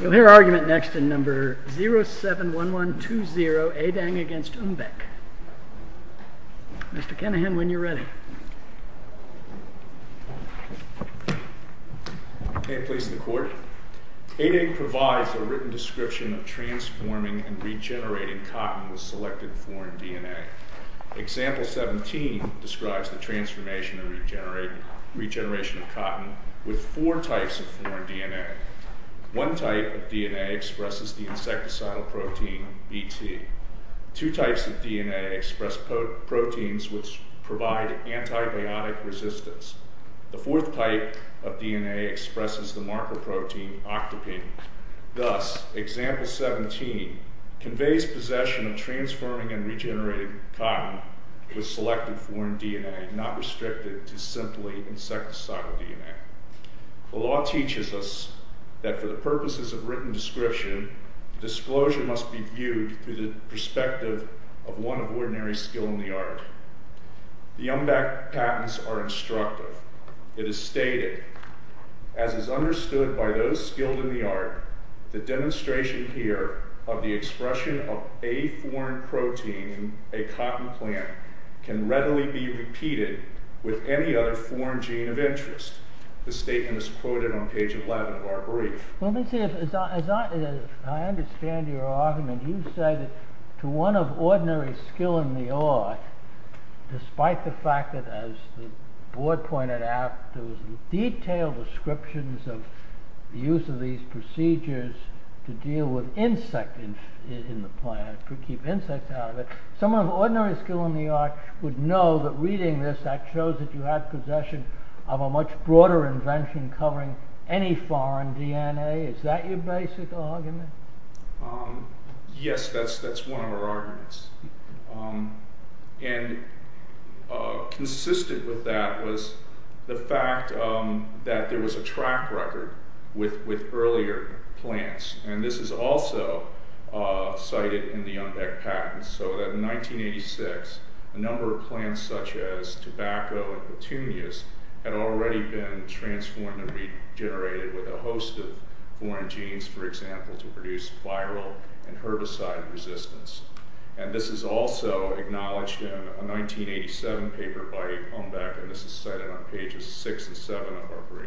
We'll hear argument next in No. 071120, Adang v. Umbeck. Mr. Kennehan, when you're ready. May it please the Court. Adang provides a written description of transforming and regenerating cotton with selected foreign DNA. Example 17 describes the transformation and regeneration of cotton with four types of foreign DNA. One type of DNA expresses the insecticidal protein, BT. Two types of DNA express proteins which provide antibiotic resistance. The fourth type of DNA expresses the marker protein, octopene. Thus, Example 17 conveys possession of transforming and regenerating cotton with selected foreign DNA, not restricted to simply insecticidal DNA. The law teaches us that for the purposes of written description, disclosure must be viewed through the perspective of one of ordinary skill in the art. The Umbeck patents are instructive. It is stated, as is understood by those skilled in the art, the demonstration here of the expression of a foreign protein in a cotton plant can readily be repeated with any other foreign gene of interest. This statement is quoted on page 11 of our brief. Let me see, as I understand your argument, you say that to one of ordinary skill in the art, despite the fact that, as the board pointed out, there was detailed descriptions of the use of these procedures to deal with insects in the plant, to keep insects out of it, someone of ordinary skill in the art would know that reading this, that shows that you have possession of a much broader invention covering any foreign DNA. Is that your basic argument? Yes, that's one of our arguments. And consistent with that was the fact that there was a track record with earlier plants, and this is also cited in the Umbeck patents, so that in 1986, a number of plants such as tobacco and petunias had already been transformed and regenerated with a host of foreign genes, for example, to produce viral and herbicide resistance. And this is also acknowledged in a 1987 paper by Umbeck, and this is cited on pages 6 and 7 of our brief.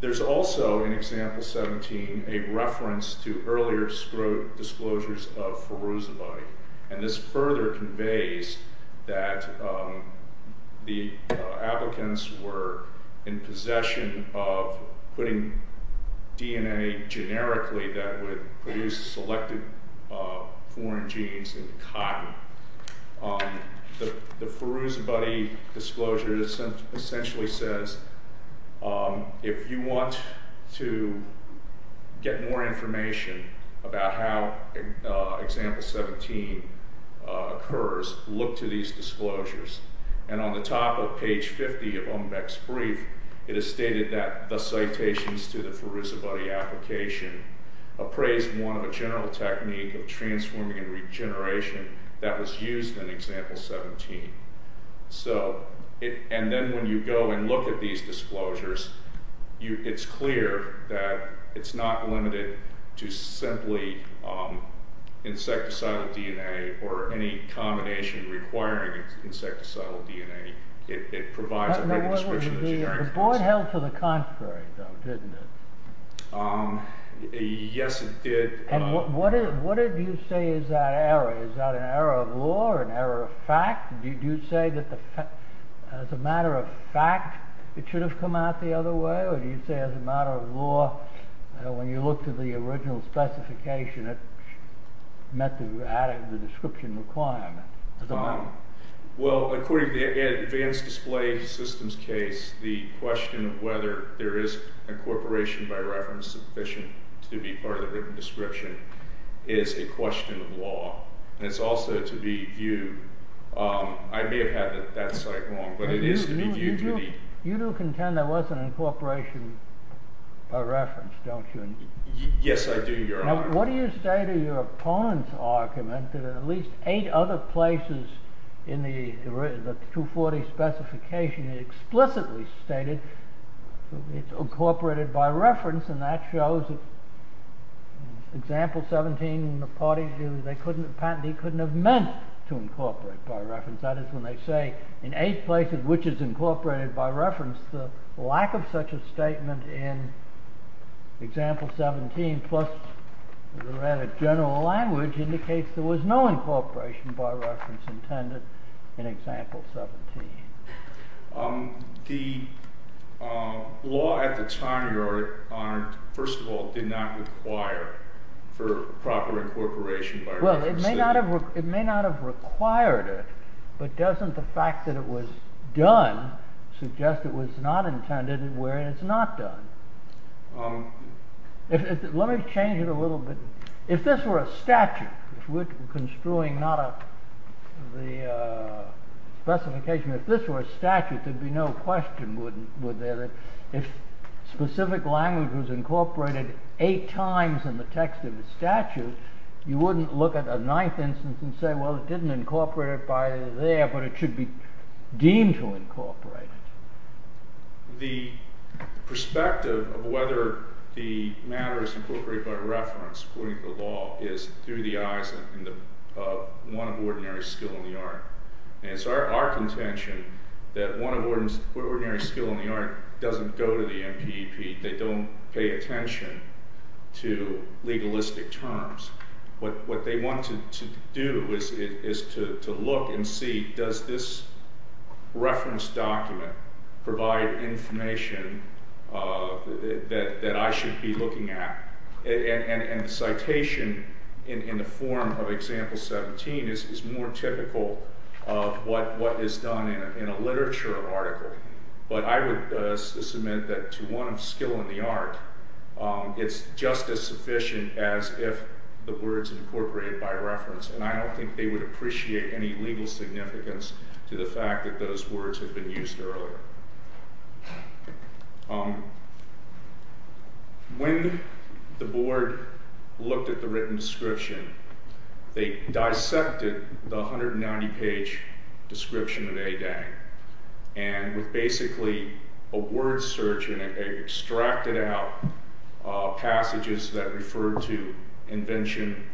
There's also, in example 17, a reference to earlier disclosures of ferrozobite, and this further conveys that the applicants were in possession of putting DNA generically that would produce selected foreign genes in cotton. The ferrozobite disclosure essentially says, if you want to get more information about how example 17 occurs, look to these disclosures. And on the top of page 50 of Umbeck's brief, it is stated that the citations to the ferrozobite application appraised one of a general technique of transforming and regeneration that was used in example 17. So, and then when you go and look at these disclosures, it's clear that it's not limited to simply insecticidal DNA or any combination requiring insecticidal DNA. It provides a great description of the generic... The board held to the contrary, though, didn't it? Yes, it did. And what did you say is that error? Is that an error of law or an error of fact? Did you say that as a matter of fact, it should have come out the other way? Or do you say as a matter of law, when you look to the original specification, it met the description requirement? Well, according to the advanced display systems case, the question of whether there is a corporation by reference sufficient to be part of the written description is a question of law. And it's also to be viewed... I may have had that site wrong, but it is to be viewed... You do contend there was an incorporation by reference, don't you? Yes, I do, Your Honor. Now, what do you say to your opponent's argument that at least eight other places in the 240 specification explicitly stated it's incorporated by reference, and that shows that in Example 17, the party couldn't have meant to incorporate by reference. That is when they say in eight places which is incorporated by reference, the lack of such a statement in Example 17, plus the rather general language indicates there was no incorporation by reference intended in Example 17. The law at the time, Your Honor, first of all, did not require for proper incorporation by reference. Well, it may not have required it, but doesn't the fact that it was done suggest it was not intended where it's not done? Let me change it a little bit. If this were a statute, if we're construing not the specification, if this were a statute, there'd be no question would there that if specific language was incorporated eight times in the text of the statute, you wouldn't look at a ninth instance and say, well, it didn't incorporate it by there, but it should be deemed to incorporate it. The perspective of whether the matter is incorporated by reference according to the law is through the eyes of one of ordinary skill in the art. And it's our contention that one of ordinary skill in the art doesn't go to the NPEP. They don't pay attention to legalistic terms. What they want to do is to look and see, does this reference document provide information that I should be looking at? And the citation in the form of Example 17 is more typical of what is done in a literature article. But I would submit that to one of skill in the art, it's just as sufficient as if the words incorporated by reference. And I don't think they would appreciate any legal significance to the fact that those words have been used earlier. When the board looked at the written description, they dissected the 190-page description of Adang and with basically a word search, and they extracted out passages that referred to invention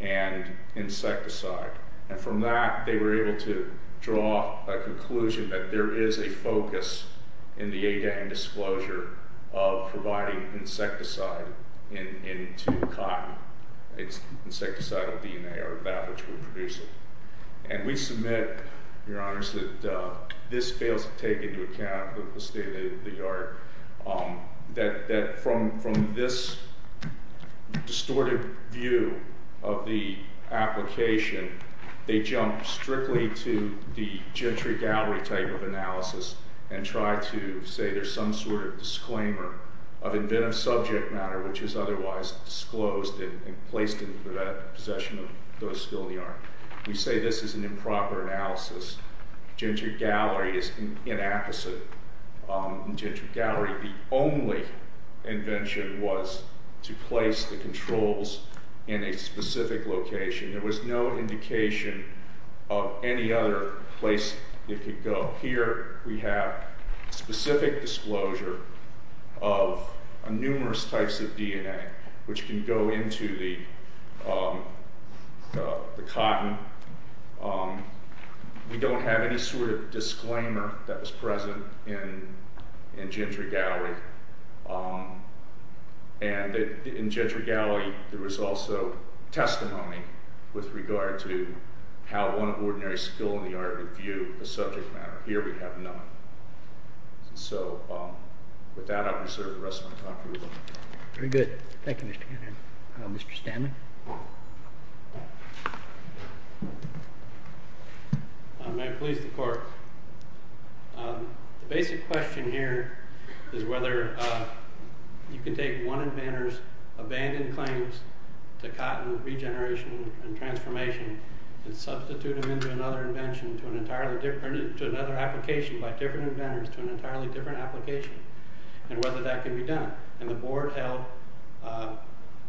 and insecticide. And from that, they were able to draw a conclusion that there is a focus in the Adang disclosure of providing insecticide into cotton. It's insecticidal DNA or that which would produce it. And we submit, Your Honors, that this fails to take into account the state of the art, that from this distorted view of the application, they jump strictly to the Gentry Gallery type of analysis and try to say there's some sort of disclaimer of inventive subject matter, which is otherwise disclosed and placed into the possession of those skilled in the art. We say this is an improper analysis. Gentry Gallery is inapposite. In Gentry Gallery, the only invention was to place the controls in a specific location. There was no indication of any other place it could go. Here we have specific disclosure of numerous types of DNA, which can go into the cotton. We don't have any sort of disclaimer that was present in Gentry Gallery. And in Gentry Gallery, there was also testimony with regard to how one of ordinary skilled in the art would view the subject matter. Here we have none. So with that, I will reserve the rest of my time for rebuttal. Very good. Thank you, Mr. Cannon. Mr. Stanley? May it please the Court. The basic question here is whether you can take one of Banner's abandoned claims to cotton regeneration and transformation and substitute them into another invention to an entirely different, to another application by different inventors to an entirely different application and whether that can be done. And the Board held,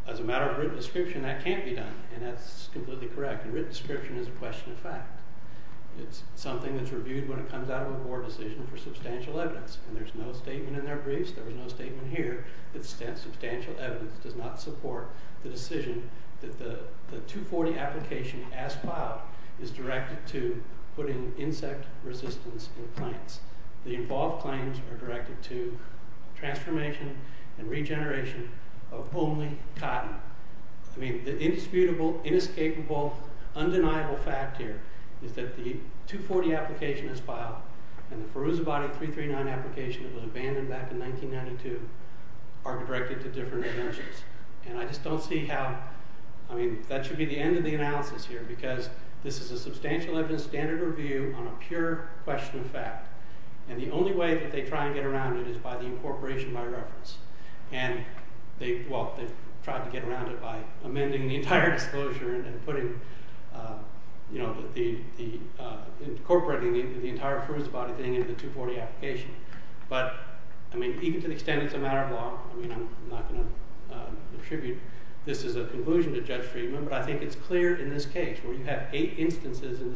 as a matter of written description, that can't be done. And that's completely correct. And written description is a question of fact. It's something that's reviewed when it comes out of a Board decision for substantial evidence. And there's no statement in their briefs, there was no statement here, that substantial evidence does not support the decision that the 240 application as filed is directed to putting insect resistance in plants. The involved claims are directed to transformation and regeneration of only cotton. I mean, the indisputable, inescapable, undeniable fact here is that the 240 application as filed and the Feruzabadi 339 application that was abandoned back in 1992 are directed to different inventions. And I just don't see how, I mean, that should be the end of the analysis here because this is a substantial evidence standard review on a pure question of fact. And the only way that they try and get around it is by the incorporation by reference. And they, well, they tried to get around it by amending the entire disclosure and incorporating the entire Feruzabadi thing into the 240 application. But, I mean, even to the extent it's a matter of law, I mean, I'm not going to attribute this as a conclusion to Judge Friedman, but I think it's clear in this case where you have eight instances in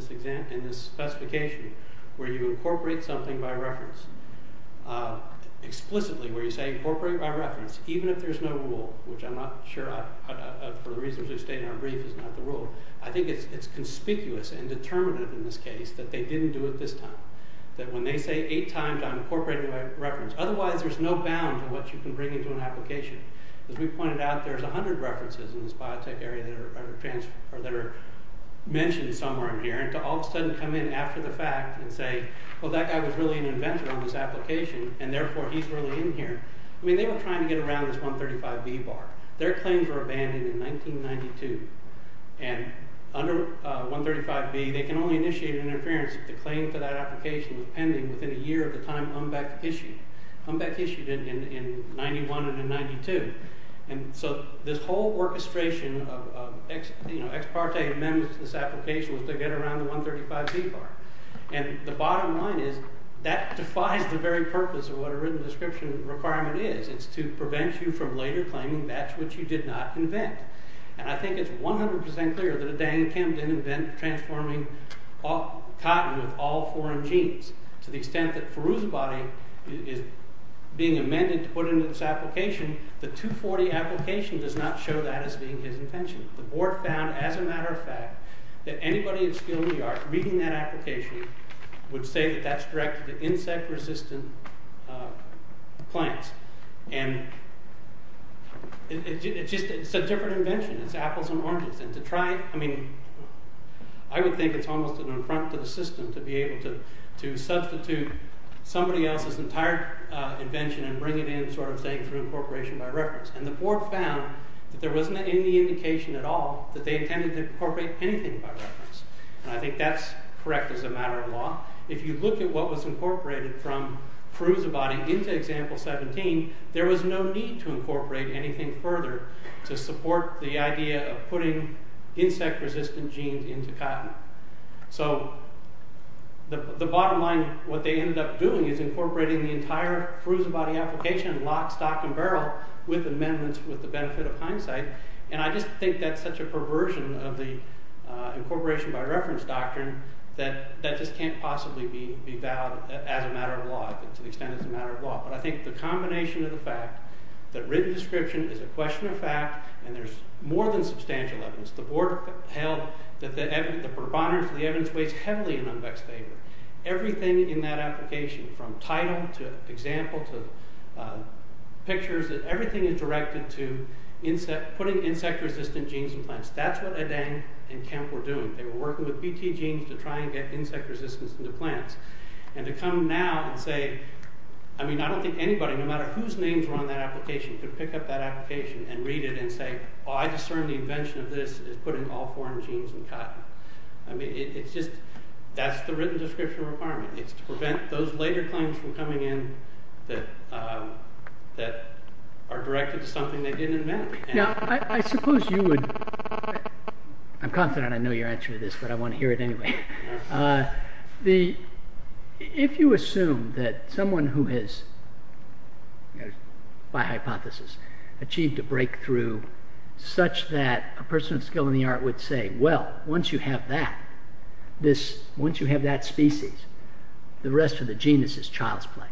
this specification where you incorporate something by reference. Explicitly, where you say incorporate by reference, even if there's no rule, which I'm not sure, for the reasons we state in our brief, is not the rule. I think it's conspicuous and determinative in this case that they didn't do it this time. That when they say eight times, I'm incorporating by reference. Otherwise, there's no bound to what you can bring into an application. As we pointed out, there's 100 references in this biotech area that are mentioned somewhere in here, and to all of a sudden come in after the fact and say, well, that guy was really an inventor on this application, and therefore he's really in here. I mean, they were trying to get around this 135B bar. Their claims were abandoned in 1992, and under 135B, they can only initiate interference if the claim to that application was pending within a year of the time Umbeck issued it in 91 and in 92. And so this whole orchestration of ex parte amendments to this application was to get around the 135B bar, and the bottom line is that defies the very purpose of what a written description requirement is. It's to prevent you from later claiming that's what you did not invent. And I think it's 100% clear that a Dan Kim didn't invent transforming cotton with all foreign genes. To the extent that feruzabadi is being amended to put into this application, the 240 application does not show that as being his invention. The board found, as a matter of fact, that anybody in skilled New York reading that application would say that that's directed to insect-resistant plants. And it's just a different invention. It's apples and oranges. And to try, I mean, I would think it's almost an affront to the system to be able to substitute somebody else's entire invention and bring it in sort of saying through incorporation by reference. And the board found that there wasn't any indication at all that they intended to incorporate anything by reference. And I think that's correct as a matter of law. If you look at what was incorporated from feruzabadi into example 17, there was no need to incorporate anything further to support the idea of putting insect-resistant genes into cotton. So the bottom line, what they ended up doing is incorporating the entire feruzabadi application in lock, stock, and barrel with amendments with the benefit of hindsight. And I just think that's such a perversion of the incorporation by reference doctrine that that just can't possibly be valid as a matter of law, to the extent it's a matter of law. But I think the combination of the fact that written description is a question of fact and there's more than substantial evidence. The board held that the evidence weighs heavily in Unbeck's favor. Everything in that application, from title to example to pictures, everything is directed to putting insect-resistant genes in plants. That's what Adang and Kemp were doing. They were working with BT genes to try and get insect resistance into plants. And to come now and say, I mean, I don't think anybody, no matter whose names were on that application, could pick up that application and read it and say, I discern the invention of this as putting all foreign genes in cotton. I mean, it's just, that's the written description requirement. It's to prevent those later claims from coming in that are directed to something they didn't invent. Now, I suppose you would, I'm confident I know your answer to this, but I want to hear it anyway. If you assume that someone who has, by hypothesis, achieved a breakthrough such that a person of skill in the art would say, well, once you have that, once you have that species, the rest of the genus is child's play.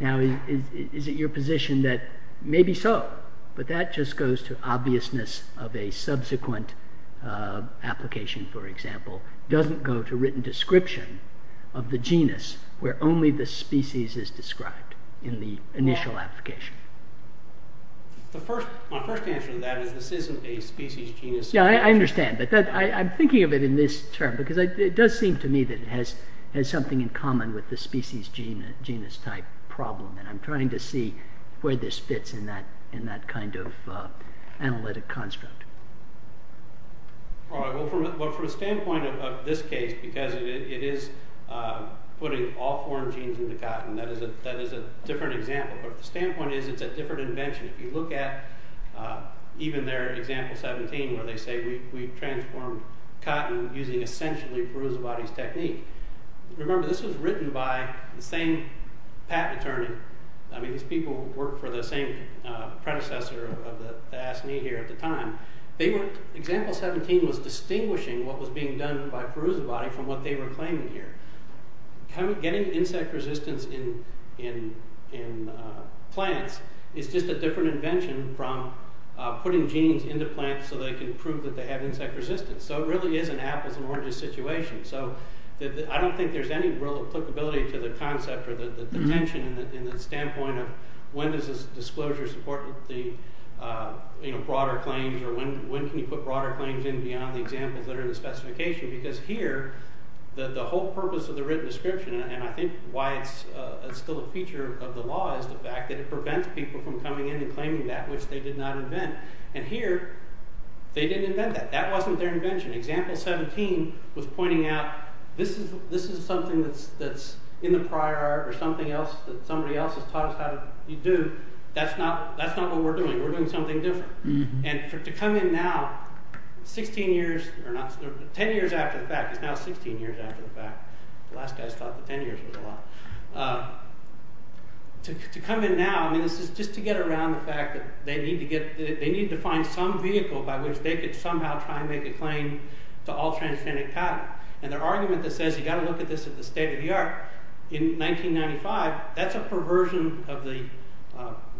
Now, is it your position that, maybe so, but that just goes to obviousness of a subsequent application, for example. It doesn't go to written description of the genus where only the species is described in the initial application. My first answer to that is this isn't a species-genus situation. Yeah, I understand, but I'm thinking of it in this term, because it does seem to me that it has something in common with the species-genus type problem, and I'm trying to see where this fits in that kind of analytic construct. All right, well, from the standpoint of this case, because it is putting all foreign genes into cotton, that is a different example, but the standpoint is it's a different invention. If you look at even their example 17, where they say, we've transformed cotton using essentially Perusavadi's technique. Remember, this was written by the same patent attorney. I mean, these people worked for the same predecessor of the ASNI here at the time. Example 17 was distinguishing what was being done by Perusavadi from what they were claiming here. Getting insect resistance in plants is just a different invention from putting genes into plants so they can prove that they have insect resistance. So it really is an apples and oranges situation. I don't think there's any real applicability to the concept or the tension in the standpoint of when does this disclosure support the broader claims, or when can you put broader claims in beyond the examples that are in the specification, because here, the whole purpose of the written description, and I think why it's still a feature of the law, is the fact that it prevents people from coming in and claiming that which they did not invent. And here, they didn't invent that. That wasn't their invention. Example 17 was pointing out this is something that's in the prior art or something else that somebody else has taught us how to do. That's not what we're doing. We're doing something different. And to come in now, 10 years after the fact. It's now 16 years after the fact. The last guys thought that 10 years was a lot. To come in now, I mean, this is just to get around the fact that they need to find some vehicle by which they could somehow try and make a claim to all transgenic pattern. And their argument that says you've got to look at this at the state of the art, in 1995, that's a perversion of the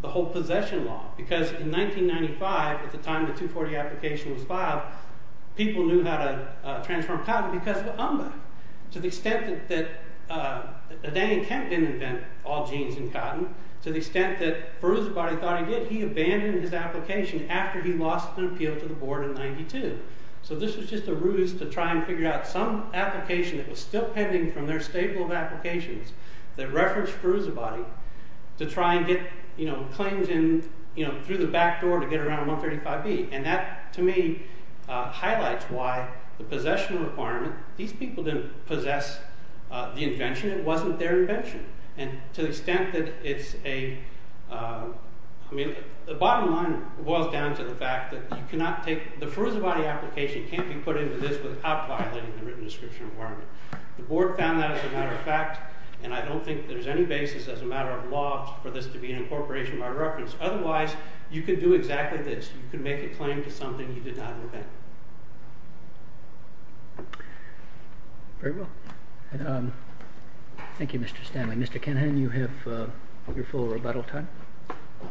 whole possession law, because in 1995, at the time the 240 application was filed, people knew how to transform cotton because of Umba, to the extent that Daniel Kemp didn't invent all genes in cotton, to the extent that Feruzabadi thought he did. He abandoned his application after he lost an appeal to the board in 92. So this was just a ruse to try and figure out some application that was still pending from their stable of applications that referenced Feruzabadi to try and get claims through the back door to get around 135B. And that, to me, highlights why the possession requirement, these people didn't possess the invention. It wasn't their invention. And to the extent that it's a... I mean, the bottom line boils down to the fact that you cannot take... The Feruzabadi application can't be put into this without violating the written description requirement. The board found that, as a matter of fact, and I don't think there's any basis as a matter of law for this to be an incorporation by reference. Otherwise, you could do exactly this. You could make a claim to something you did not invent. Very well. Thank you, Mr. Stanley. Mr. Kenhan, you have your full rebuttal time. Thank you.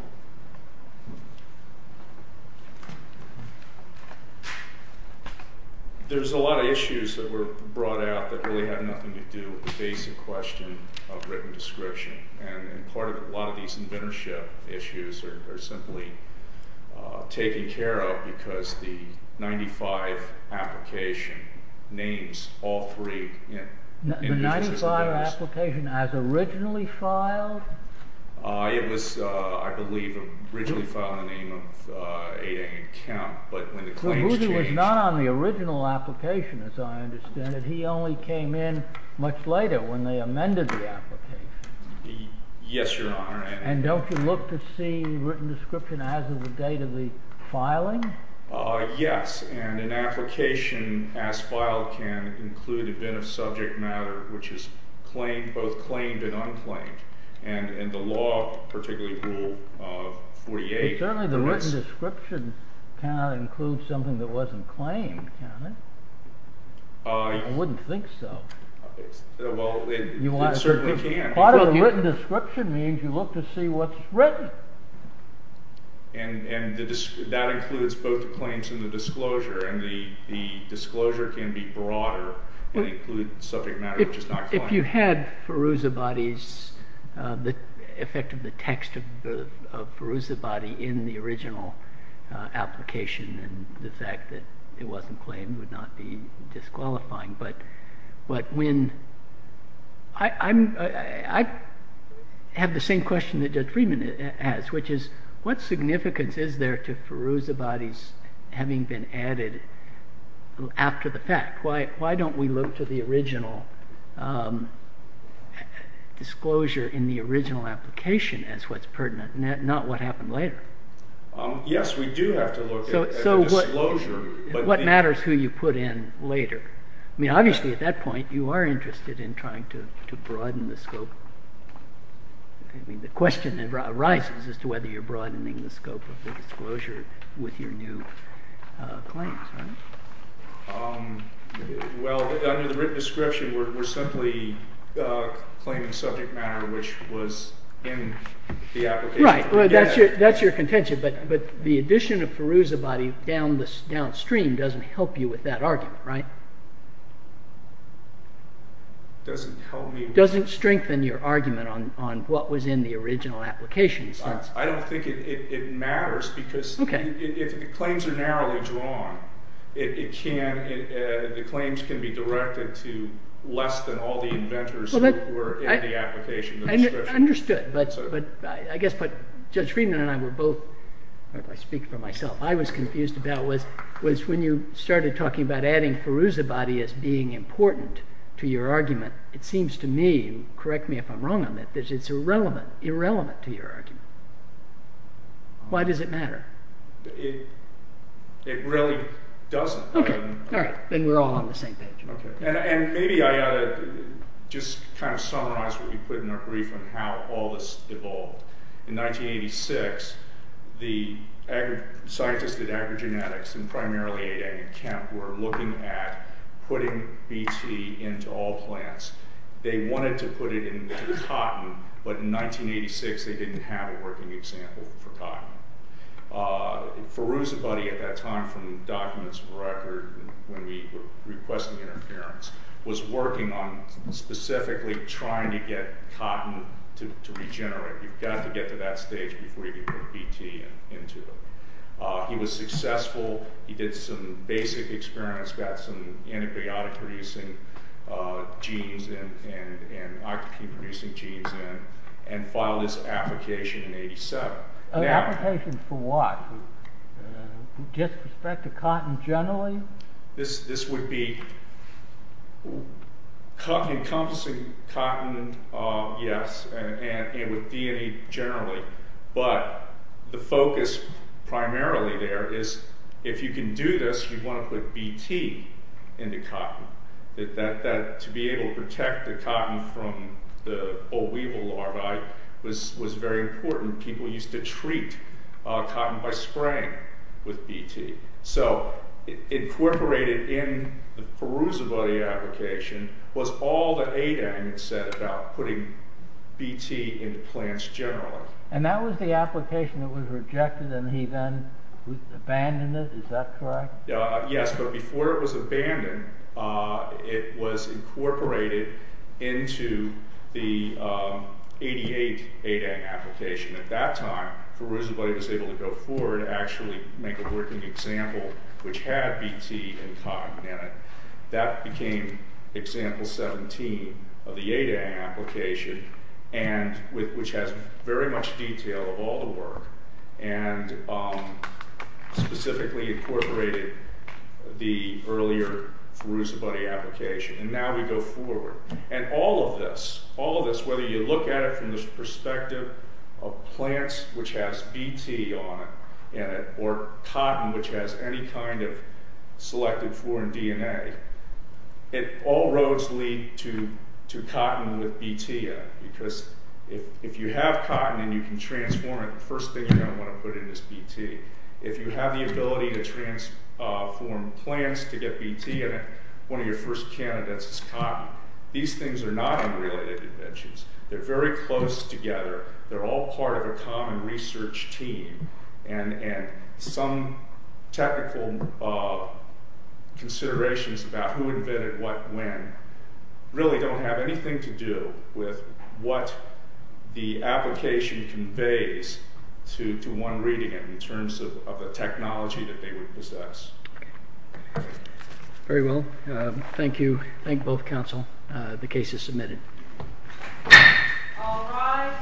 There's a lot of issues that were brought out that really had nothing to do with the basic question of written description. And part of a lot of these inventorship issues are simply taken care of because the 95 application names all three. The 95 application as originally filed? It was, I believe, originally filed in the name of 8A and Kemp, but when the claims changed... So Boozy was not on the original application, as I understand it. He only came in much later when they amended the application. Yes, Your Honor. And don't you look to see written description as of the date of the filing? Yes. And an application as filed can include a bit of subject matter which is claimed, both claimed and unclaimed. And the law, particularly Rule 48... But certainly the written description cannot include something that wasn't claimed, can it? I wouldn't think so. Well, it certainly can. Part of the written description means you look to see what's written. And that includes both the claims and the disclosure, and the disclosure can be broader and include subject matter which is not claimed. Well, if you had Feruzabadi's... the effect of the text of Feruzabadi in the original application and the fact that it wasn't claimed would not be disqualifying, but when... I have the same question that Judge Friedman has, which is what significance is there to Feruzabadi's having been added after the fact? Why don't we look to the original disclosure in the original application as what's pertinent, not what happened later? Yes, we do have to look at the disclosure. So what matters who you put in later? I mean, obviously at that point you are interested in trying to broaden the scope. I mean, the question arises as to whether you're broadening the scope of the disclosure with your new claims, right? Well, under the written description we're simply claiming subject matter which was in the application. Right, that's your contention, but the addition of Feruzabadi downstream doesn't help you with that argument, right? Doesn't help me... Doesn't strengthen your argument on what was in the original application. The claims can be directed to less than all the inventors who were in the application. I understood, but I guess what Judge Friedman and I were both... I speak for myself. What I was confused about was when you started talking about adding Feruzabadi as being important to your argument. It seems to me, correct me if I'm wrong on that, that it's irrelevant, irrelevant to your argument. Why does it matter? It really doesn't. Okay, all right, then we're all on the same page. Okay, and maybe I ought to just kind of summarize what you put in our brief on how all this evolved. In 1986, the scientists at Agrigenetics and primarily A. David Kemp were looking at putting BT into all plants. They wanted to put it into cotton, but in 1986 they didn't have a working example for cotton. Feruzabadi, at that time, from documents of record, when we were requesting interference, was working on specifically trying to get cotton to regenerate. You've got to get to that stage before you can put BT into it. He was successful. He did some basic experiments, got some antibiotic-producing genes and octopine-producing genes in, and filed his application in 1987. Application for what? Just respect to cotton generally? This would be encompassing cotton, yes, and with DNA generally, but the focus primarily there is if you can do this, you want to put BT into cotton. To be able to protect the cotton from the old weevil larvae was very important. People used to treat cotton by spraying with BT. Incorporated in the Feruzabadi application was all that Adang had said about putting BT into plants generally. And that was the application that was rejected, and he then abandoned it, is that correct? Yes, but before it was abandoned, it was incorporated into the 88 Adang application. At that time, Feruzabadi was able to go forward and actually make a working example which had BT in cotton, and that became example 17 of the Adang application, which has very much detail of all the work, and specifically incorporated the earlier Feruzabadi application. And now we go forward. And all of this, whether you look at it from the perspective of plants, which has BT in it, or cotton, which has any kind of selected foreign DNA, all roads lead to cotton with BT in it, because if you have cotton and you can transform it, the first thing you're going to want to put in is BT. If you have the ability to transform plants to get BT in it, one of your first candidates is cotton. These things are not unrelated inventions. They're very close together. They're all part of a common research team, and some technical considerations about who invented what when really don't have anything to do with what the application conveys to one reading it in terms of the technology that they would possess. Very well. Thank you. Thank both counsel. The case is submitted. All rise.